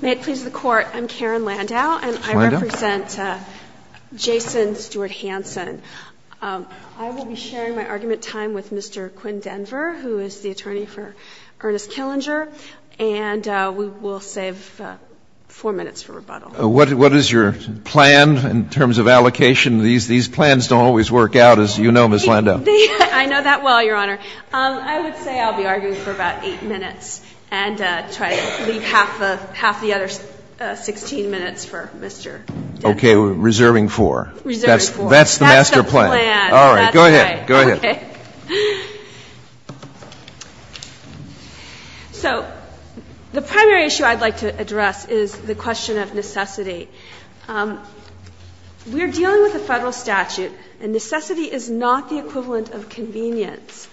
May it please the Court, I'm Karen Landau and I represent Jason Stewart-Hanson. I will be sharing my argument time with Mr. Quinn Denver, who is the attorney for Ernest Killinger, and we will save four minutes for rebuttal. What is your plan in terms of allocation? These plans don't always work out, as you know, Ms. Landau. I know that well, Your Honor. I would say I'll be arguing for about eight minutes and try to leave half the other 16 minutes for Mr. Denver. Okay. Reserving four. Reserving four. That's the master plan. That's the plan. All right. Go ahead. Go ahead. Okay. So the primary issue I'd like to address is the question of necessity. We're dealing with a Federal statute, and necessity is not the equivalent of convenience.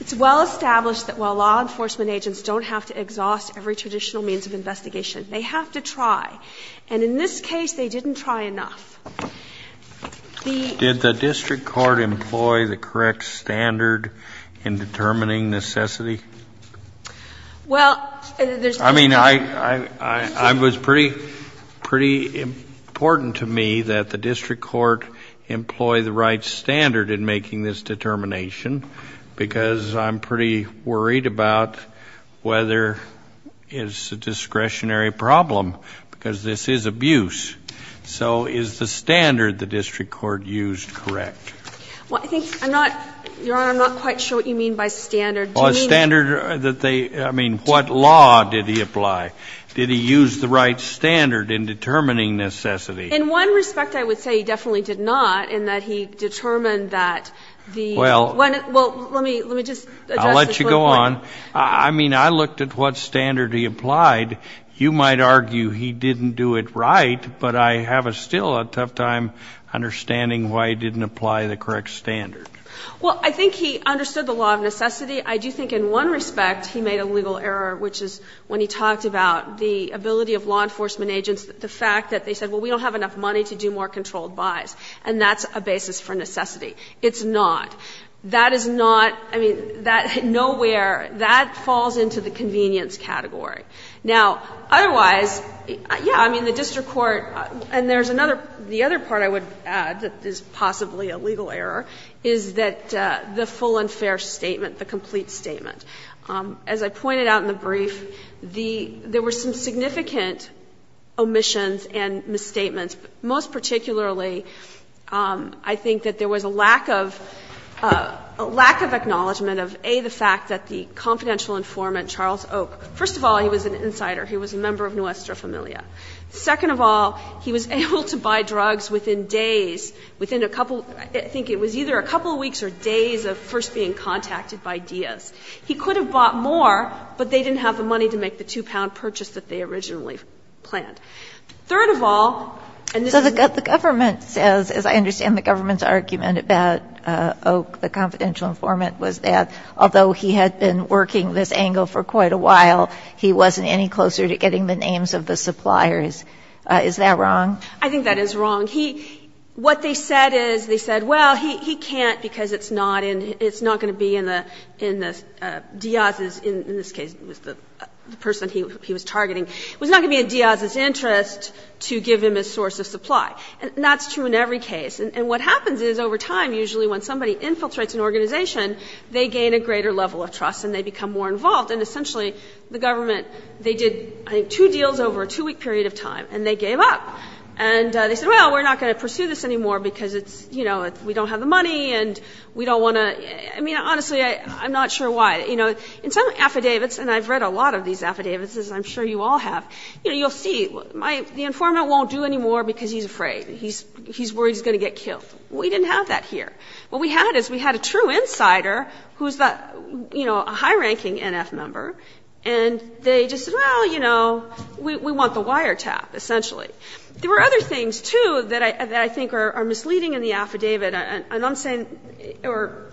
It's well established that while law enforcement agents don't have to exhaust every traditional means of investigation, they have to try. And in this case, they didn't try enough. The ---- Did the district court employ the correct standard in determining necessity? Well, there's no ---- I mean, it was pretty important to me that the district court employ the right standard in making this determination because I'm pretty worried about whether it's a discretionary problem because this is abuse. So is the standard the district court used correct? Well, I think I'm not, Your Honor, I'm not quite sure what you mean by standard. Well, a standard that they ---- I mean, what law did he apply? Did he use the right standard in determining necessity? In one respect, I would say he definitely did not in that he determined that the ---- Well ---- Well, let me just address the point. I'll let you go on. I mean, I looked at what standard he applied. You might argue he didn't do it right, but I have still a tough time understanding why he didn't apply the correct standard. Well, I think he understood the law of necessity. I do think in one respect he made a legal error, which is when he talked about the ability of law enforcement agents, the fact that they said, well, we don't have enough money to do more controlled buys. And that's a basis for necessity. It's not. That is not ---- I mean, that nowhere ---- that falls into the convenience category. Now, otherwise, yeah, I mean, the district court ---- and there's another ---- the other part I would add that is possibly a legal error is that the full and fair statement, the complete statement. As I pointed out in the brief, the ---- there were some significant omissions and misstatements. Most particularly, I think that there was a lack of ---- a lack of acknowledgment of, A, the fact that the confidential informant, Charles Oak, first of all, he was an insider. He was a member of Nuestra Familia. Second of all, he was able to buy drugs within days, within a couple of ---- I think it was either a couple of weeks or days of first being contacted by Diaz. He could have bought more, but they didn't have the money to make the 2-pound purchase that they originally planned. Third of all, and this is ---- Ginsburg. The government says, as I understand the government's argument about Oak, the confidential informant, was that although he had been working this angle for quite a while, he wasn't any closer to getting the names of the suppliers. Is that wrong? I think that is wrong. He ---- what they said is, they said, well, he can't because it's not in the ---- it's not going to be in the Diaz's ---- in this case, it was the person he was targeting ---- it was not going to be in Diaz's interest to give him his source of supply. And that's true in every case. And what happens is over time, usually when somebody infiltrates an organization, they gain a greater level of trust and they become more involved. And essentially, the government, they did, I think, two deals over a 2-week period of time, and they gave up. And they said, well, we're not going to pursue this anymore because it's, you know, we don't have the money and we don't want to ---- I mean, honestly, I'm not sure why. You know, in some affidavits, and I've read a lot of these affidavits, as I'm sure you all have, you know, you'll see, my ---- the informant won't do anymore because he's afraid. He's worried he's going to get killed. We didn't have that here. What we had is we had a true insider who's, you know, a high-ranking NF member, and they just said, well, you know, we want the wiretap, essentially. There were other things, too, that I think are misleading in the affidavit, and I'm saying or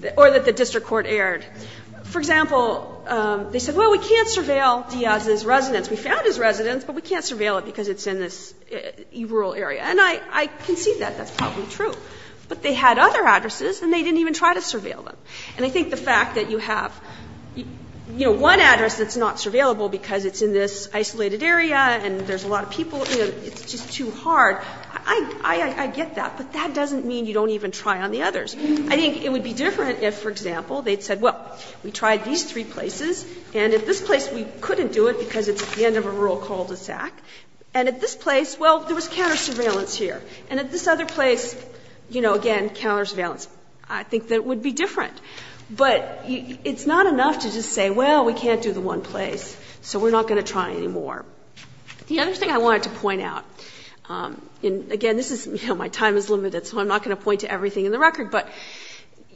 that the district court aired. For example, they said, well, we can't surveil Diaz's residence. We found his residence, but we can't surveil it because it's in this rural area. And I can see that. That's probably true. But they had other addresses, and they didn't even try to surveil them. And I think the fact that you have, you know, one address that's not surveillable because it's in this isolated area and there's a lot of people, you know, it's just too hard. I get that, but that doesn't mean you don't even try on the others. I think it would be different if, for example, they'd said, well, we tried these three places, and at this place we couldn't do it because it's at the end of a rural cul-de-sac. And at this place, well, there was counter surveillance here. And at this other place, you know, again, counter surveillance. I think that would be different. But it's not enough to just say, well, we can't do the one place, so we're not going to try anymore. The other thing I wanted to point out, and again, this is, you know, my time is limited, so I'm not going to point to everything in the record. But,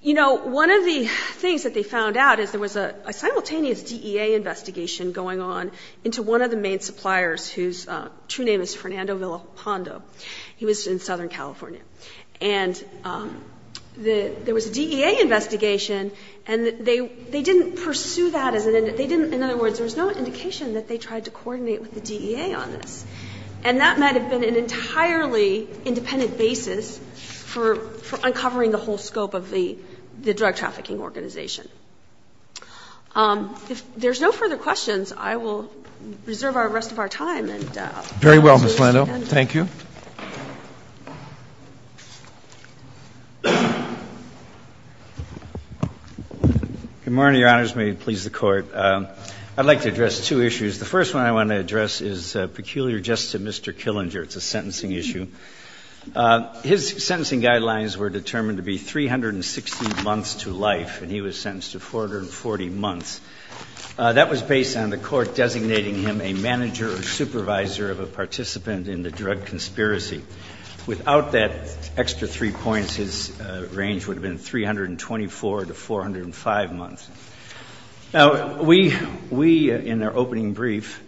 you know, one of the things that they found out is there was a simultaneous DEA investigation going on into one of the main suppliers whose true name is Fernando Villalpando. He was in Southern California. And there was a DEA investigation, and they didn't pursue that as an end. They didn't, in other words, there was no indication that they tried to coordinate with the DEA on this. And that might have been an entirely independent basis for uncovering the whole scope of the drug trafficking organization. If there's no further questions, I will reserve the rest of our time. Very well, Ms. Lando. Thank you. Good morning, Your Honors. May it please the Court. I'd like to address two issues. The first one I want to address is peculiar just to Mr. Killinger. It's a sentencing issue. His sentencing guidelines were determined to be 360 months to life, and he was sentenced to 440 months. That was based on the court designating him a manager or supervisor of a participant in the drug conspiracy. Without that extra three points, his range would have been 324 to 405 months. Now, we, in our opening brief,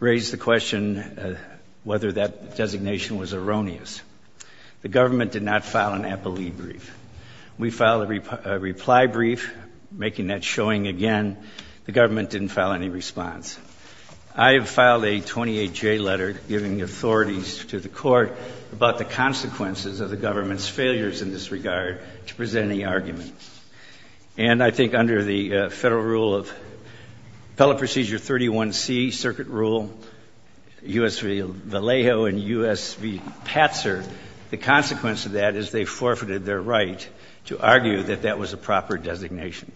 raised the question whether that designation was erroneous. The government did not file an appellee brief. We filed a reply brief, making that showing again. The government didn't file any response. I have filed a 28-J letter giving authorities to the court about the consequences of the government's failures in this regard to present any argument. And I think under the Federal Rule of Appellate Procedure 31C, Circuit Rule, U.S. v. Vallejo and U.S. v. Patzer, the consequence of that is they forfeited their right to argue that that was a proper designation.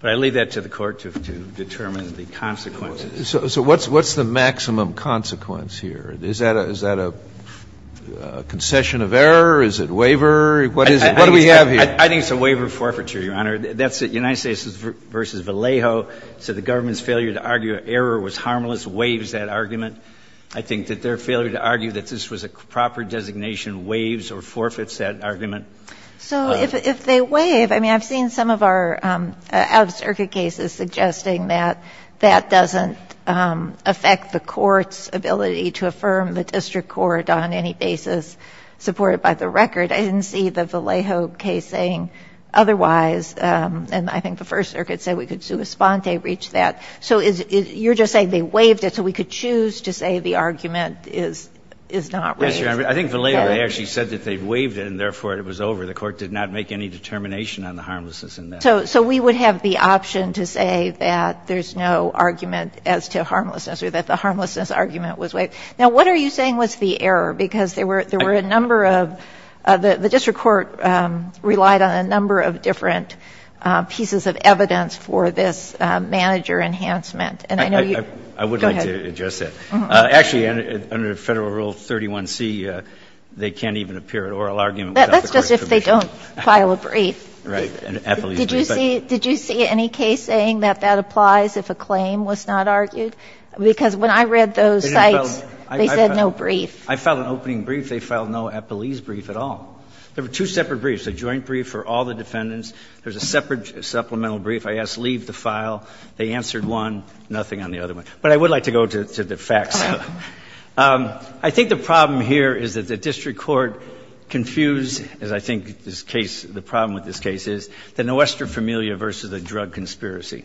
But I leave that to the Court to determine the consequences. So what's the maximum consequence here? Is that a concession of error? Is it waiver? What is it? What do we have here? I think it's a waiver forfeiture, Your Honor. That's the United States v. Vallejo. So the government's failure to argue error was harmless waives that argument. I think that their failure to argue that this was a proper designation waives or forfeits that argument. So if they waive, I mean, I've seen some of our out-of-circuit cases suggesting that that doesn't affect the court's ability to affirm the district court on any basis supported by the record. I didn't see the Vallejo case saying otherwise. And I think the First Circuit said we could sua sponte, reach that. So you're just saying they waived it so we could choose to say the argument is not waived. I think Vallejo actually said that they waived it and therefore it was over. The court did not make any determination on the harmlessness in that. So we would have the option to say that there's no argument as to harmlessness or that the harmlessness argument was waived. Now, what are you saying was the error? Because there were a number of the district court relied on a number of different pieces of evidence for this manager enhancement. And I know you go ahead. I would like to address that. Actually, under Federal Rule 31c, they can't even appear at oral argument without the court's permission. That's just if they don't file a brief. Right. Did you see any case saying that that applies if a claim was not argued? Because when I read those sites, they said no brief. I filed an opening brief. They filed no epilese brief at all. There were two separate briefs, a joint brief for all the defendants. There's a separate supplemental brief. I asked leave the file. They answered one, nothing on the other one. But I would like to go to the facts. I think the problem here is that the district court confused, as I think the problem with this case is, the Nuestra Familia versus the drug conspiracy.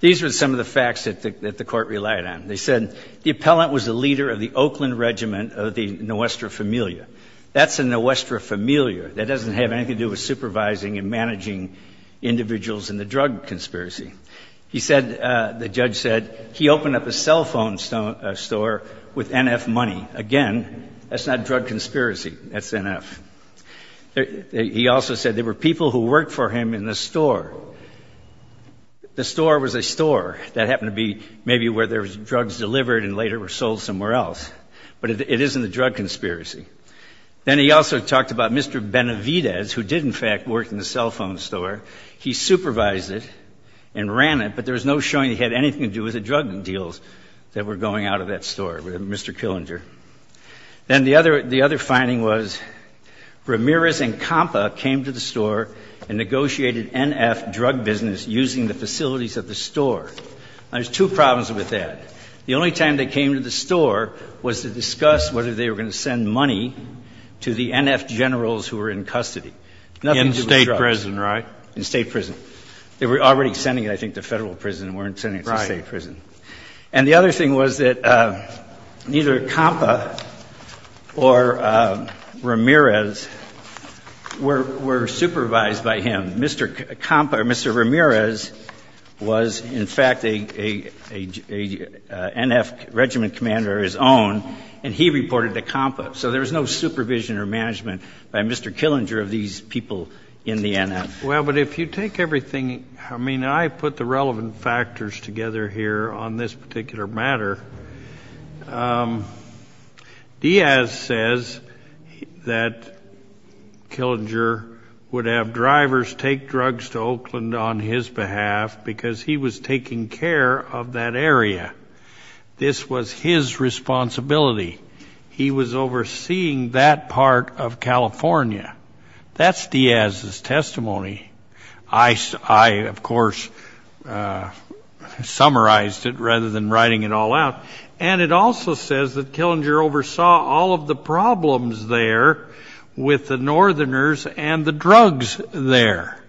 These were some of the facts that the court relied on. They said the appellant was the leader of the Oakland Regiment of the Nuestra Familia. That's a Nuestra Familia. That doesn't have anything to do with supervising and managing individuals in the drug conspiracy. The judge said he opened up a cell phone store with NF money. Again, that's not drug conspiracy. That's NF. He also said there were people who worked for him in the store. The store was a store. That happened to be maybe where there was drugs delivered and later were sold somewhere else. But it isn't a drug conspiracy. Then he also talked about Mr. Benavidez, who did, in fact, work in the cell phone store. He supervised it and ran it, but there was no showing he had anything to do with the drug deals that were going out of that store with Mr. Killinger. Then the other finding was Ramirez and Compa came to the store and negotiated NF drug business using the facilities of the store. Now, there's two problems with that. The only time they came to the store was to discuss whether they were going to send money to the NF generals who were in custody. Nothing to do with drugs. In state prison, right? In state prison. They were already sending it, I think, to federal prison and weren't sending it to state prison. Right. And the other thing was that neither Compa or Ramirez were supervised by him. Mr. Compa or Mr. Ramirez was, in fact, a NF regiment commander of his own, and he reported to Compa. So there was no supervision or management by Mr. Killinger of these people in the NF. Well, but if you take everything, I mean, I put the relevant factors together here on this particular matter. Diaz says that Killinger would have drivers take drugs to Oakland on his behalf because he was taking care of that area. This was his responsibility. He was overseeing that part of California. That's Diaz's testimony. I, of course, summarized it rather than writing it all out. And it also says that Killinger oversaw all of the problems there with the northerners and the drugs there.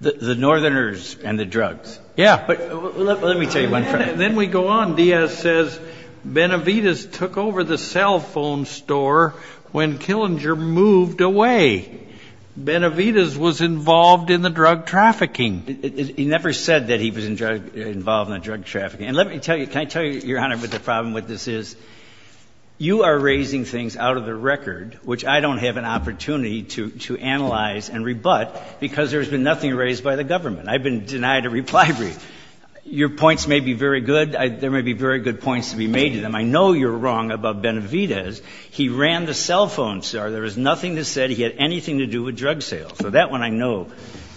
The northerners and the drugs. Yeah. But let me tell you one thing. Then we go on. Diaz says Benavides took over the cell phone store when Killinger moved away. Benavides was involved in the drug trafficking. He never said that he was involved in the drug trafficking. And let me tell you, can I tell you, Your Honor, what the problem with this is, you are raising things out of the record, which I don't have an opportunity to analyze and rebut because there's been nothing raised by the government. I've been denied a reply brief. Your points may be very good. There may be very good points to be made to them. I know you're wrong about Benavides. He ran the cell phone store. There was nothing that said he had anything to do with drug sales. So that one I know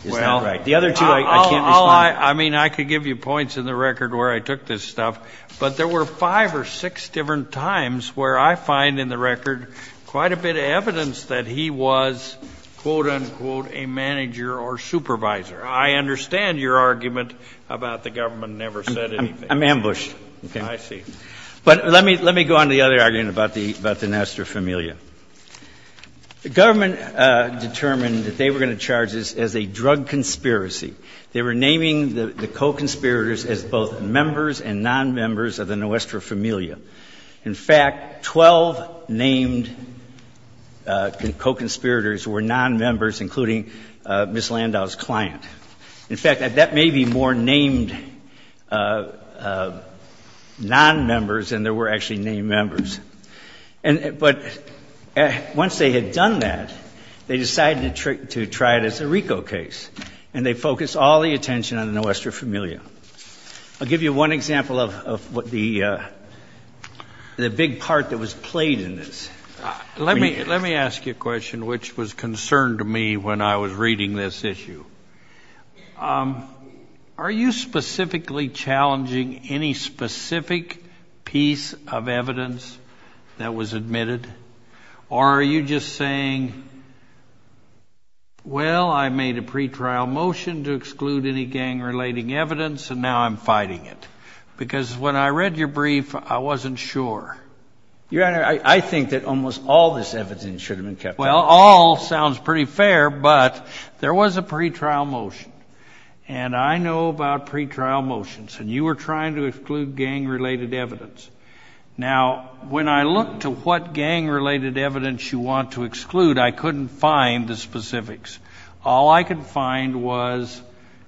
is not right. The other two I can't respond to. I mean, I could give you points in the record where I took this stuff. But there were five or six different times where I find in the record quite a bit of evidence that he was, quote, unquote, a manager or supervisor. I understand your argument about the government never said anything. I'm ambushed. Okay. I see. But let me go on to the other argument about the Nuestra Familia. The government determined that they were going to charge this as a drug conspiracy. They were naming the co-conspirators as both members and nonmembers of the Nuestra Familia. In fact, 12 named co-conspirators were nonmembers, including Ms. Landau's client. In fact, that may be more named nonmembers than there were actually named members. But once they had done that, they decided to try it as a RICO case, and they focused all the attention on the Nuestra Familia. I'll give you one example of the big part that was played in this. Let me ask you a question which was a concern to me when I was reading this issue. Are you specifically challenging any specific piece of evidence that was admitted? Or are you just saying, well, I made a pretrial motion to exclude any gang-related evidence, and now I'm fighting it? Because when I read your brief, I wasn't sure. Your Honor, I think that almost all this evidence should have been kept out. Well, all sounds pretty fair, but there was a pretrial motion, and I know about pretrial motions. And you were trying to exclude gang-related evidence. Now, when I looked to what gang-related evidence you want to exclude, I couldn't find the specifics. All I could find was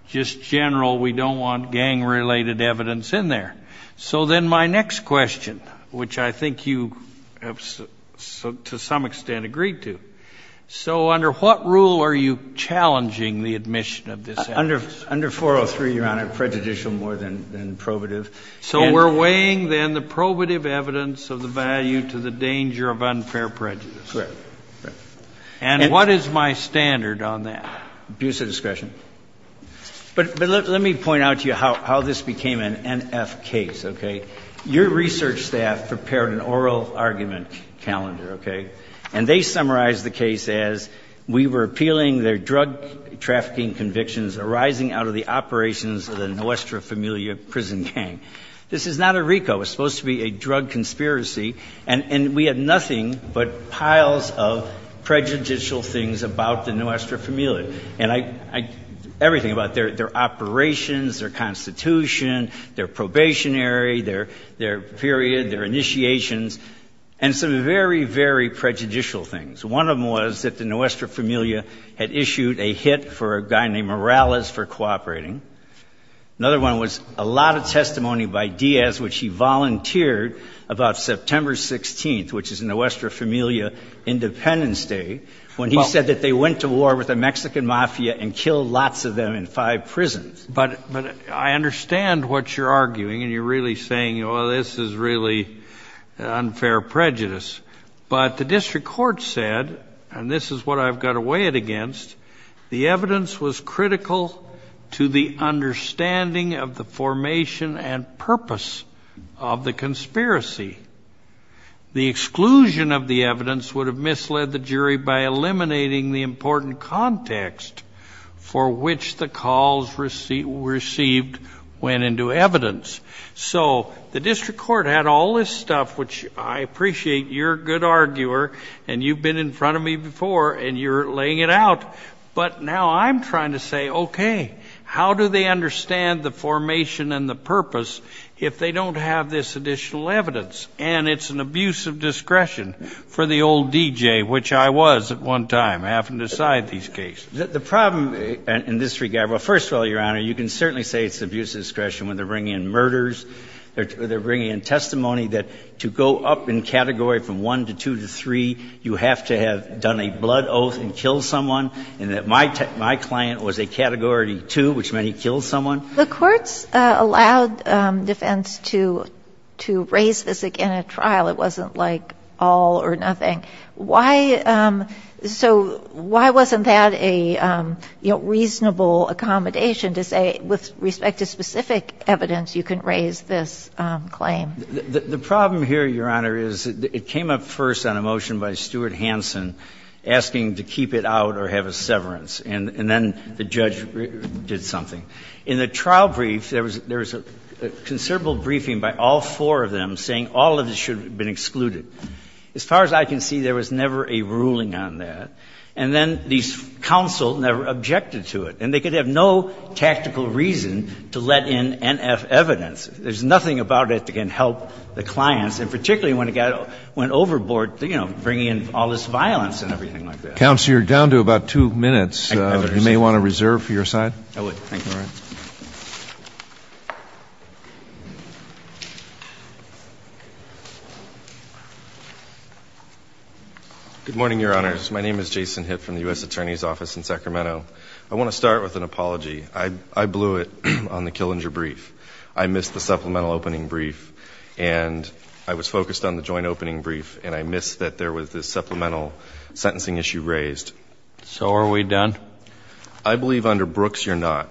just general, we don't want gang-related evidence in there. So then my next question, which I think you have to some extent agreed to, so under what rule are you challenging the admission of this evidence? Under 403, Your Honor, prejudicial more than probative. So we're weighing, then, the probative evidence of the value to the danger of unfair prejudice. Correct. And what is my standard on that? Abuse of discretion. But let me point out to you how this became an NF case, okay? Your research staff prepared an oral argument calendar, okay? And they summarized the case as we were appealing their drug trafficking convictions arising out of the operations of the Nuestra Familia prison gang. This is not a RICO. It was supposed to be a drug conspiracy, and we had nothing but piles of prejudicial things about the Nuestra Familia. And I — everything about their operations, their constitution, their probationary, their period, their initiations, and some very, very prejudicial things. One of them was that the Nuestra Familia had issued a hit for a guy named Morales for cooperating. Another one was a lot of testimony by Diaz, which he volunteered about September 16th, which is Nuestra Familia Independence Day, when he said that they went to war with a Mexican mafia and killed lots of them in five prisons. But I understand what you're arguing, and you're really saying, well, this is really unfair prejudice. But the district court said, and this is what I've got to weigh it against, the evidence was critical to the understanding of the formation and purpose of the conspiracy. The exclusion of the evidence would have misled the jury by eliminating the important context for which the calls received went into evidence. So the district court had all this stuff, which I appreciate you're a good arguer, and you've been in front of me before, and you're laying it out. But now I'm trying to say, okay, how do they understand the formation and the purpose if they don't have this additional evidence? And it's an abuse of discretion for the old DJ, which I was at one time, having to decide these cases. The problem in this regard, well, first of all, Your Honor, you can certainly say it's abuse of discretion when they're bringing in murders, or they're bringing in testimony that to go up in category from 1 to 2 to 3, you have to have done a blood oath and killed someone, and that my client was a Category 2, which meant he killed someone. The courts allowed defense to raise this in a trial. It wasn't like all or nothing. Why so why wasn't that a, you know, reasonable accommodation to say with respect to specific evidence you can raise this claim? The problem here, Your Honor, is it came up first on a motion by Stuart Hansen asking to keep it out or have a severance, and then the judge did something. In the trial brief, there was a considerable briefing by all four of them saying all of this should have been excluded. As far as I can see, there was never a ruling on that. And then these counsel never objected to it, and they could have no tactical reason to let in NF evidence. There's nothing about it that can help the clients, and particularly when it got overboard, you know, bringing in all this violence and everything like that. Counsel, you're down to about two minutes. You may want to reserve for your side. I would. Thank you. All right. Good morning, Your Honors. My name is Jason Hitt from the U.S. Attorney's Office in Sacramento. I want to start with an apology. I blew it on the Killinger brief. I missed the supplemental opening brief, and I was focused on the joint opening brief, and I missed that there was this supplemental sentencing issue raised. So are we done? I believe under Brooks you're not.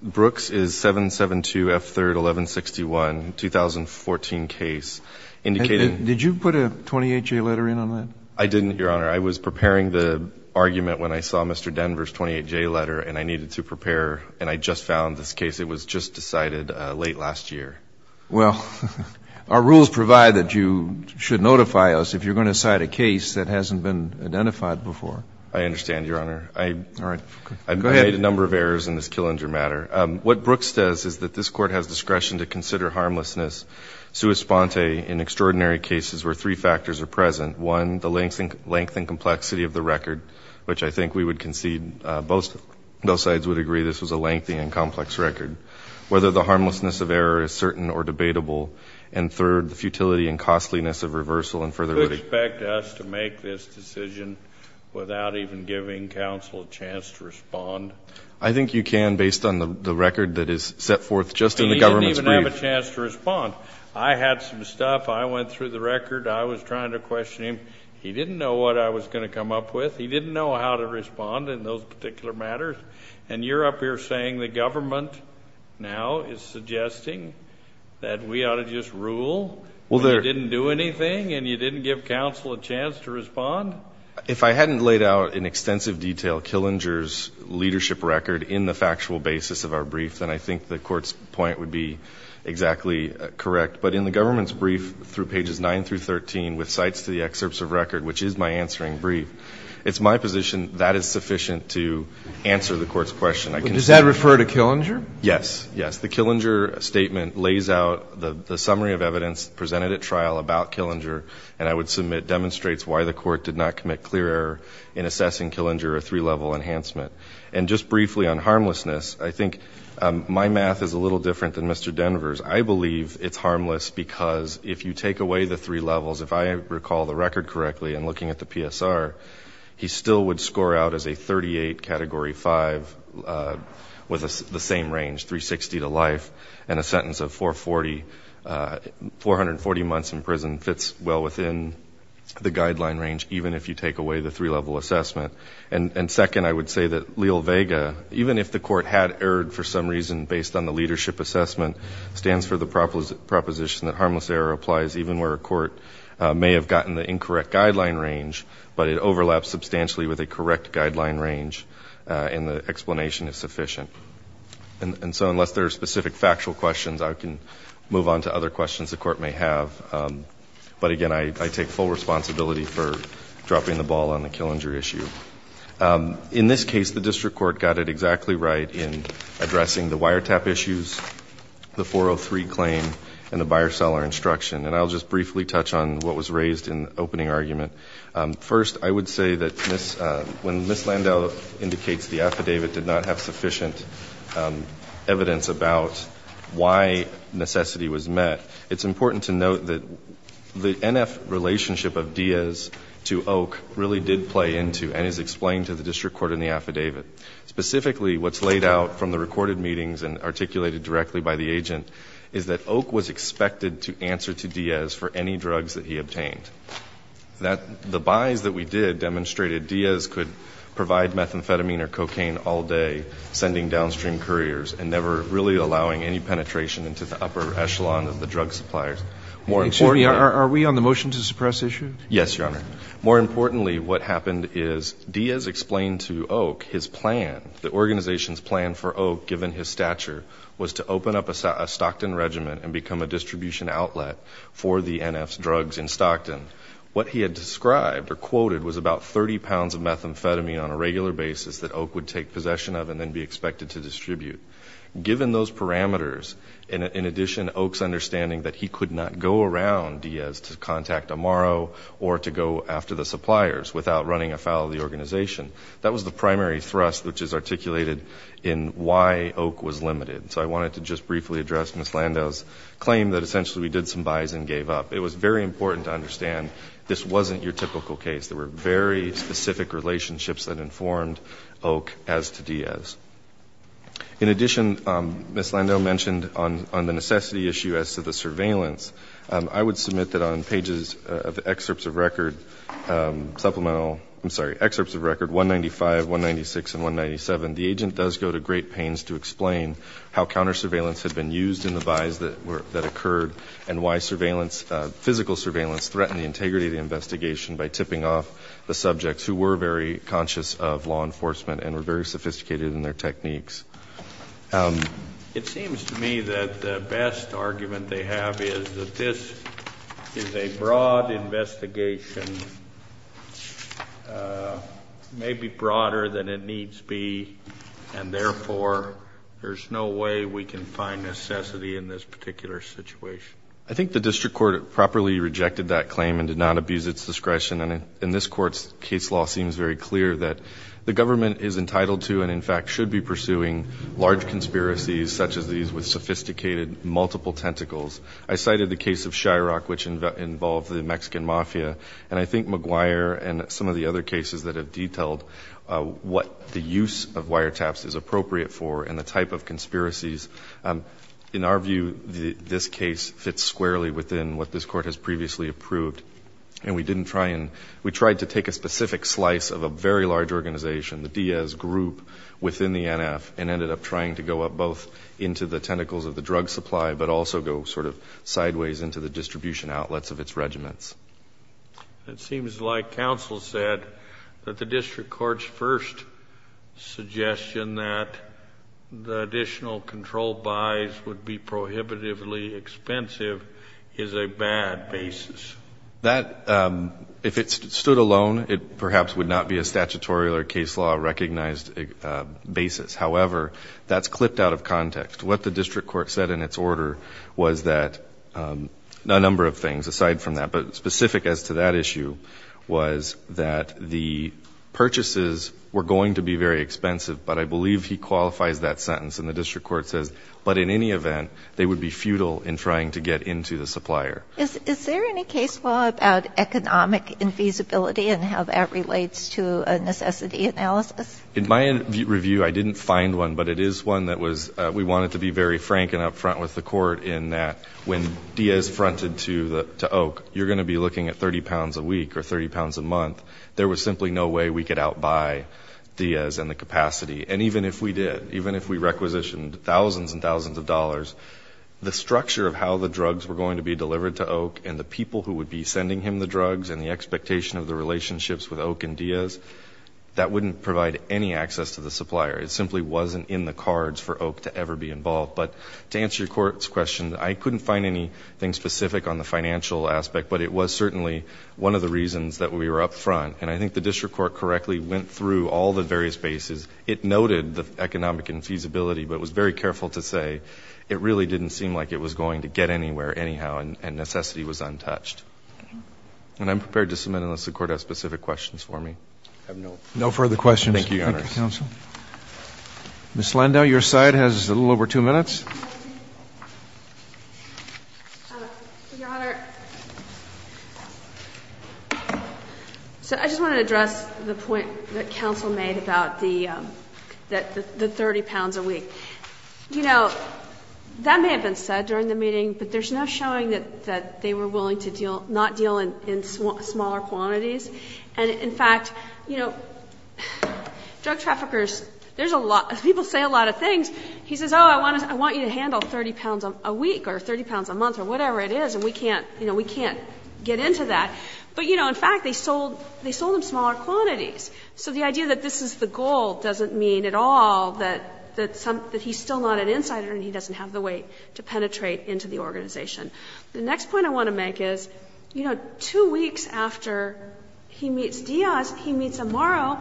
Brooks is 772 F3rd 1161, 2014 case, indicating ---- Did you put a 28J letter in on that? I didn't, Your Honor. I was preparing the argument when I saw Mr. Denver's 28J letter, and I needed to prepare and I just found this case. It was just decided late last year. Well, our rules provide that you should notify us if you're going to cite a case that hasn't been identified before. I understand, Your Honor. All right. Go ahead. I made a number of errors in this Killinger matter. What Brooks says is that this Court has discretion to consider harmlessness sua sponte in extraordinary cases where three factors are present. One, the length and complexity of the record, which I think we would concede both sides would agree this was a lengthy and complex record. Whether the harmlessness of error is certain or debatable. And third, the futility and costliness of reversal and further litigation. Do you expect us to make this decision without even giving counsel a chance to respond? I think you can based on the record that is set forth just in the government's brief. He didn't even have a chance to respond. I had some stuff. I went through the record. I was trying to question him. He didn't know what I was going to come up with. He didn't know how to respond in those particular matters. And you're up here saying the government now is suggesting that we ought to just rule and you didn't do anything and you didn't give counsel a chance to respond? If I hadn't laid out in extensive detail Killinger's leadership record in the factual basis of our brief, then I think the Court's point would be exactly correct. But in the government's brief through pages 9 through 13 with cites to the excerpts of record, which is my answering brief, it's my position that is sufficient to answer the Court's question. Does that refer to Killinger? Yes. Yes. The Killinger statement lays out the summary of evidence presented at trial about Killinger and I would submit demonstrates why the Court did not commit clear error in assessing Killinger, a three-level enhancement. And just briefly on harmlessness, I think my math is a little different than Mr. Denver's. I believe it's harmless because if you take away the three levels, if I recall the record correctly and looking at the PSR, he still would score out as a 38, Category 5, with the same range, 360 to life, and a sentence of 440, 440 months in prison fits well within the guideline range, even if you take away the three-level assessment. And second, I would say that Leal-Vega, even if the Court had erred for some reason based on the leadership assessment, stands for the proposition that harmless error applies even where a Court may have gotten the incorrect guideline range, but it overlaps substantially with a correct guideline range and the explanation is sufficient. And so unless there are specific factual questions, I can move on to other questions the Court may have. But again, I take full responsibility for dropping the ball on the Killinger issue. In this case, the District Court got it exactly right in addressing the wiretap issues, the 403 claim, and the buyer-seller instruction. And I'll just briefly touch on what was raised in the opening argument. First, I would say that when Ms. Landau indicates the affidavit did not have sufficient evidence about why necessity was met, it's important to note that the NF relationship of Diaz to Oak really did play into and is explained to the District Court in the affidavit. Specifically, what's laid out from the recorded meetings and articulated directly by the agent is that Oak was expected to answer to Diaz for any drugs that he obtained. That the buys that we did demonstrated Diaz could provide methamphetamine or cocaine all day, sending downstream couriers and never really allowing any penetration into the upper echelon of the drug suppliers. More importantly — Are we on the motion to suppress issue? Yes, Your Honor. More importantly, what happened is Diaz explained to Oak his plan, the organization's plan for Oak, given his stature, was to open up a Stockton regiment and become a distribution outlet for the NF drugs in Stockton. What he had described or quoted was about 30 pounds of methamphetamine on a regular basis that Oak would take possession of and then be expected to distribute. Given those parameters, in addition, Oak's understanding that he could not go around Diaz to contact Amaro or to go after the suppliers without running afoul of the organization, that was the primary thrust which is articulated in why Oak was limited. So I wanted to just briefly address Ms. Lando's claim that essentially we did some buys and gave up. It was very important to understand this wasn't your typical case. There were very specific relationships that informed Oak as to Diaz. In addition, Ms. Lando mentioned on the necessity issue as to the surveillance, I would submit that on pages of excerpts of record, supplemental — I'm sorry, excerpts of record 195, 196, and 197, the agent does go to great pains to explain how counter surveillance had been used in the buys that occurred and why surveillance, physical surveillance, threatened the integrity of the investigation by tipping off the subjects who were very conscious of law enforcement and were very sophisticated in their techniques. It seems to me that the best argument they have is that this is a broad investigation, may be broader than it needs to be, and therefore there's no way we can find necessity in this particular situation. I think the district court properly rejected that claim and did not abuse its discretion. And in this court's case law, it seems very clear that the government is entitled to and, in fact, should be pursuing large conspiracies such as these with sophisticated, multiple tentacles. I cited the case of Chirac, which involved the Mexican mafia, and I think McGuire and some of the other cases that have detailed what the use of wiretaps is appropriate for and the type of conspiracies. In our view, this case fits squarely within what this Court has previously approved. And we didn't try and — we tried to take a specific slice of a very large organization, the Diaz group within the NF, and ended up trying to go up both into the tentacles of the drug supply, but also go sort of sideways into the distribution outlets of its regiments. It seems like counsel said that the district court's first suggestion that the additional control buys would be prohibitively expensive is a bad basis. That, if it stood alone, it perhaps would not be a statutory or case law-recognized However, that's clipped out of context. What the district court said in its order was that — a number of things aside from that, but specific as to that issue — was that the purchases were going to be very expensive, but I believe he qualifies that sentence. And the district court says, but in any event, they would be futile in trying to get into the supplier. Is there any case law about economic infeasibility and how that relates to a necessity analysis? In my review, I didn't find one, but it is one that we wanted to be very frank and upfront with the court in that when Diaz fronted to Oak, you're going to be looking at 30 pounds a week or 30 pounds a month. There was simply no way we could outbuy Diaz in the capacity. And even if we did, even if we requisitioned thousands and thousands of dollars, the structure of how the drugs were going to be delivered to Oak and the people who would be sending him the drugs and the expectation of the relationships with Oak and Diaz, that wouldn't provide any access to the supplier. It simply wasn't in the cards for Oak to ever be involved. But to answer your court's question, I couldn't find anything specific on the financial aspect, but it was certainly one of the reasons that we were upfront. And I think the district court correctly went through all the various bases. It noted the economic infeasibility, but it was very careful to say it really didn't seem like it was going to get anywhere anyhow and necessity was untouched. And I'm prepared to submit unless the court has specific questions for me. I have no further questions. Thank you, Your Honor. Thank you, counsel. Ms. Landau, your side has a little over two minutes. Your Honor, so I just want to address the point that counsel made about the 30 pounds a week. You know, that may have been said during the meeting, but there's no showing that they were willing to not deal in smaller quantities. And, in fact, you know, drug traffickers, there's a lot, people say a lot of things. He says, oh, I want you to handle 30 pounds a week or 30 pounds a month or whatever it is, and we can't get into that. But, you know, in fact, they sold them smaller quantities. So the idea that this is the goal doesn't mean at all that he's still not an insider and he doesn't have the weight to penetrate into the organization. The next point I want to make is, you know, two weeks after he meets Diaz, he meets Amaro,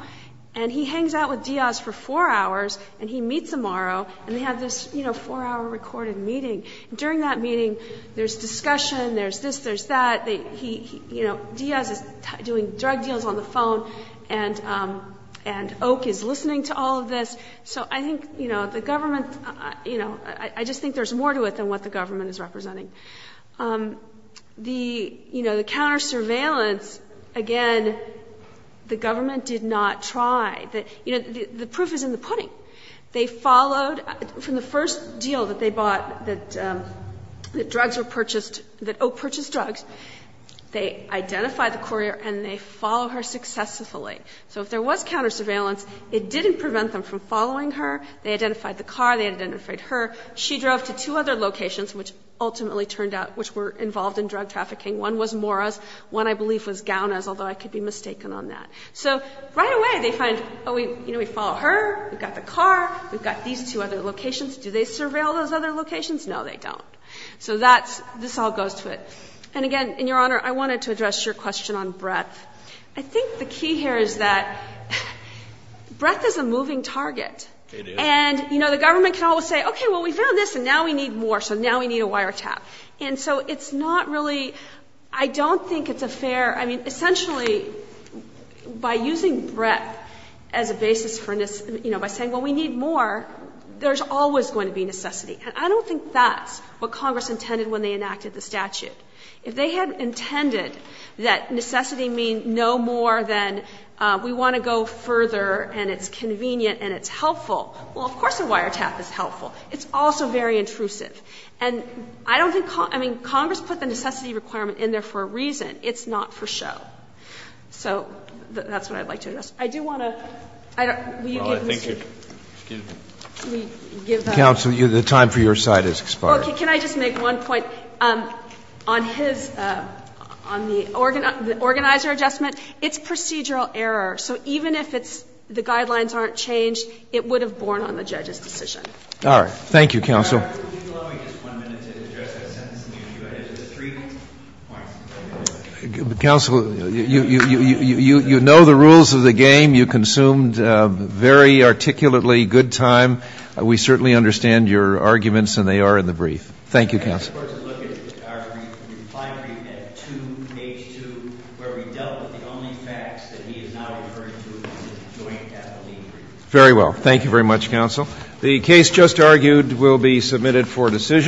and he hangs out with Diaz for four hours, and he meets Amaro, and they have this, you know, four-hour recorded meeting. During that meeting, there's discussion, there's this, there's that. Diaz is doing drug deals on the phone, and Oak is listening to all of this. So I think, you know, the government, you know, I just think there's more to it than what the government is representing. The, you know, the counter-surveillance, again, the government did not try. You know, the proof is in the pudding. They followed, from the first deal that they bought, that drugs were purchased, that Oak purchased drugs, they identified the courier and they followed her successfully. So if there was counter-surveillance, it didn't prevent them from following her. They identified the car. They identified her. She drove to two other locations, which ultimately turned out, which were involved in drug trafficking. One was Mora's. One, I believe, was Gaona's, although I could be mistaken on that. So right away, they find, oh, we, you know, we follow her. We've got the car. We've got these two other locations. Do they surveil those other locations? No, they don't. So that's, this all goes to it. And, again, and, Your Honor, I wanted to address your question on breadth. I think the key here is that breadth is a moving target. And, you know, the government can always say, okay, well, we found this and now we need more, so now we need a wiretap. And so it's not really, I don't think it's a fair, I mean, essentially, by using breadth as a basis for, you know, by saying, well, we need more, there's always going to be necessity. And I don't think that's what Congress intended when they enacted the statute. If they had intended that necessity mean no more than we want to go further and it's convenient and it's helpful, well, of course a wiretap is helpful. It's also very intrusive. And I don't think Congress, I mean, Congress put the necessity requirement in there for a reason. It's not for show. So that's what I'd like to address. I do want to, I don't, will you give me a second? Roberts, excuse me. Counsel, the time for your side has expired. Okay. Can I just make one point? On his, on the organizer adjustment, it's procedural error. So even if it's, the guidelines aren't changed, it would have borne on the judge's decision. All right. Thank you, counsel. Counsel, you know the rules of the game. You consumed very articulately good time. We certainly understand your arguments and they are in the brief. Thank you, counsel. Very well. Thank you very much, counsel. The case just argued will be submitted for decision.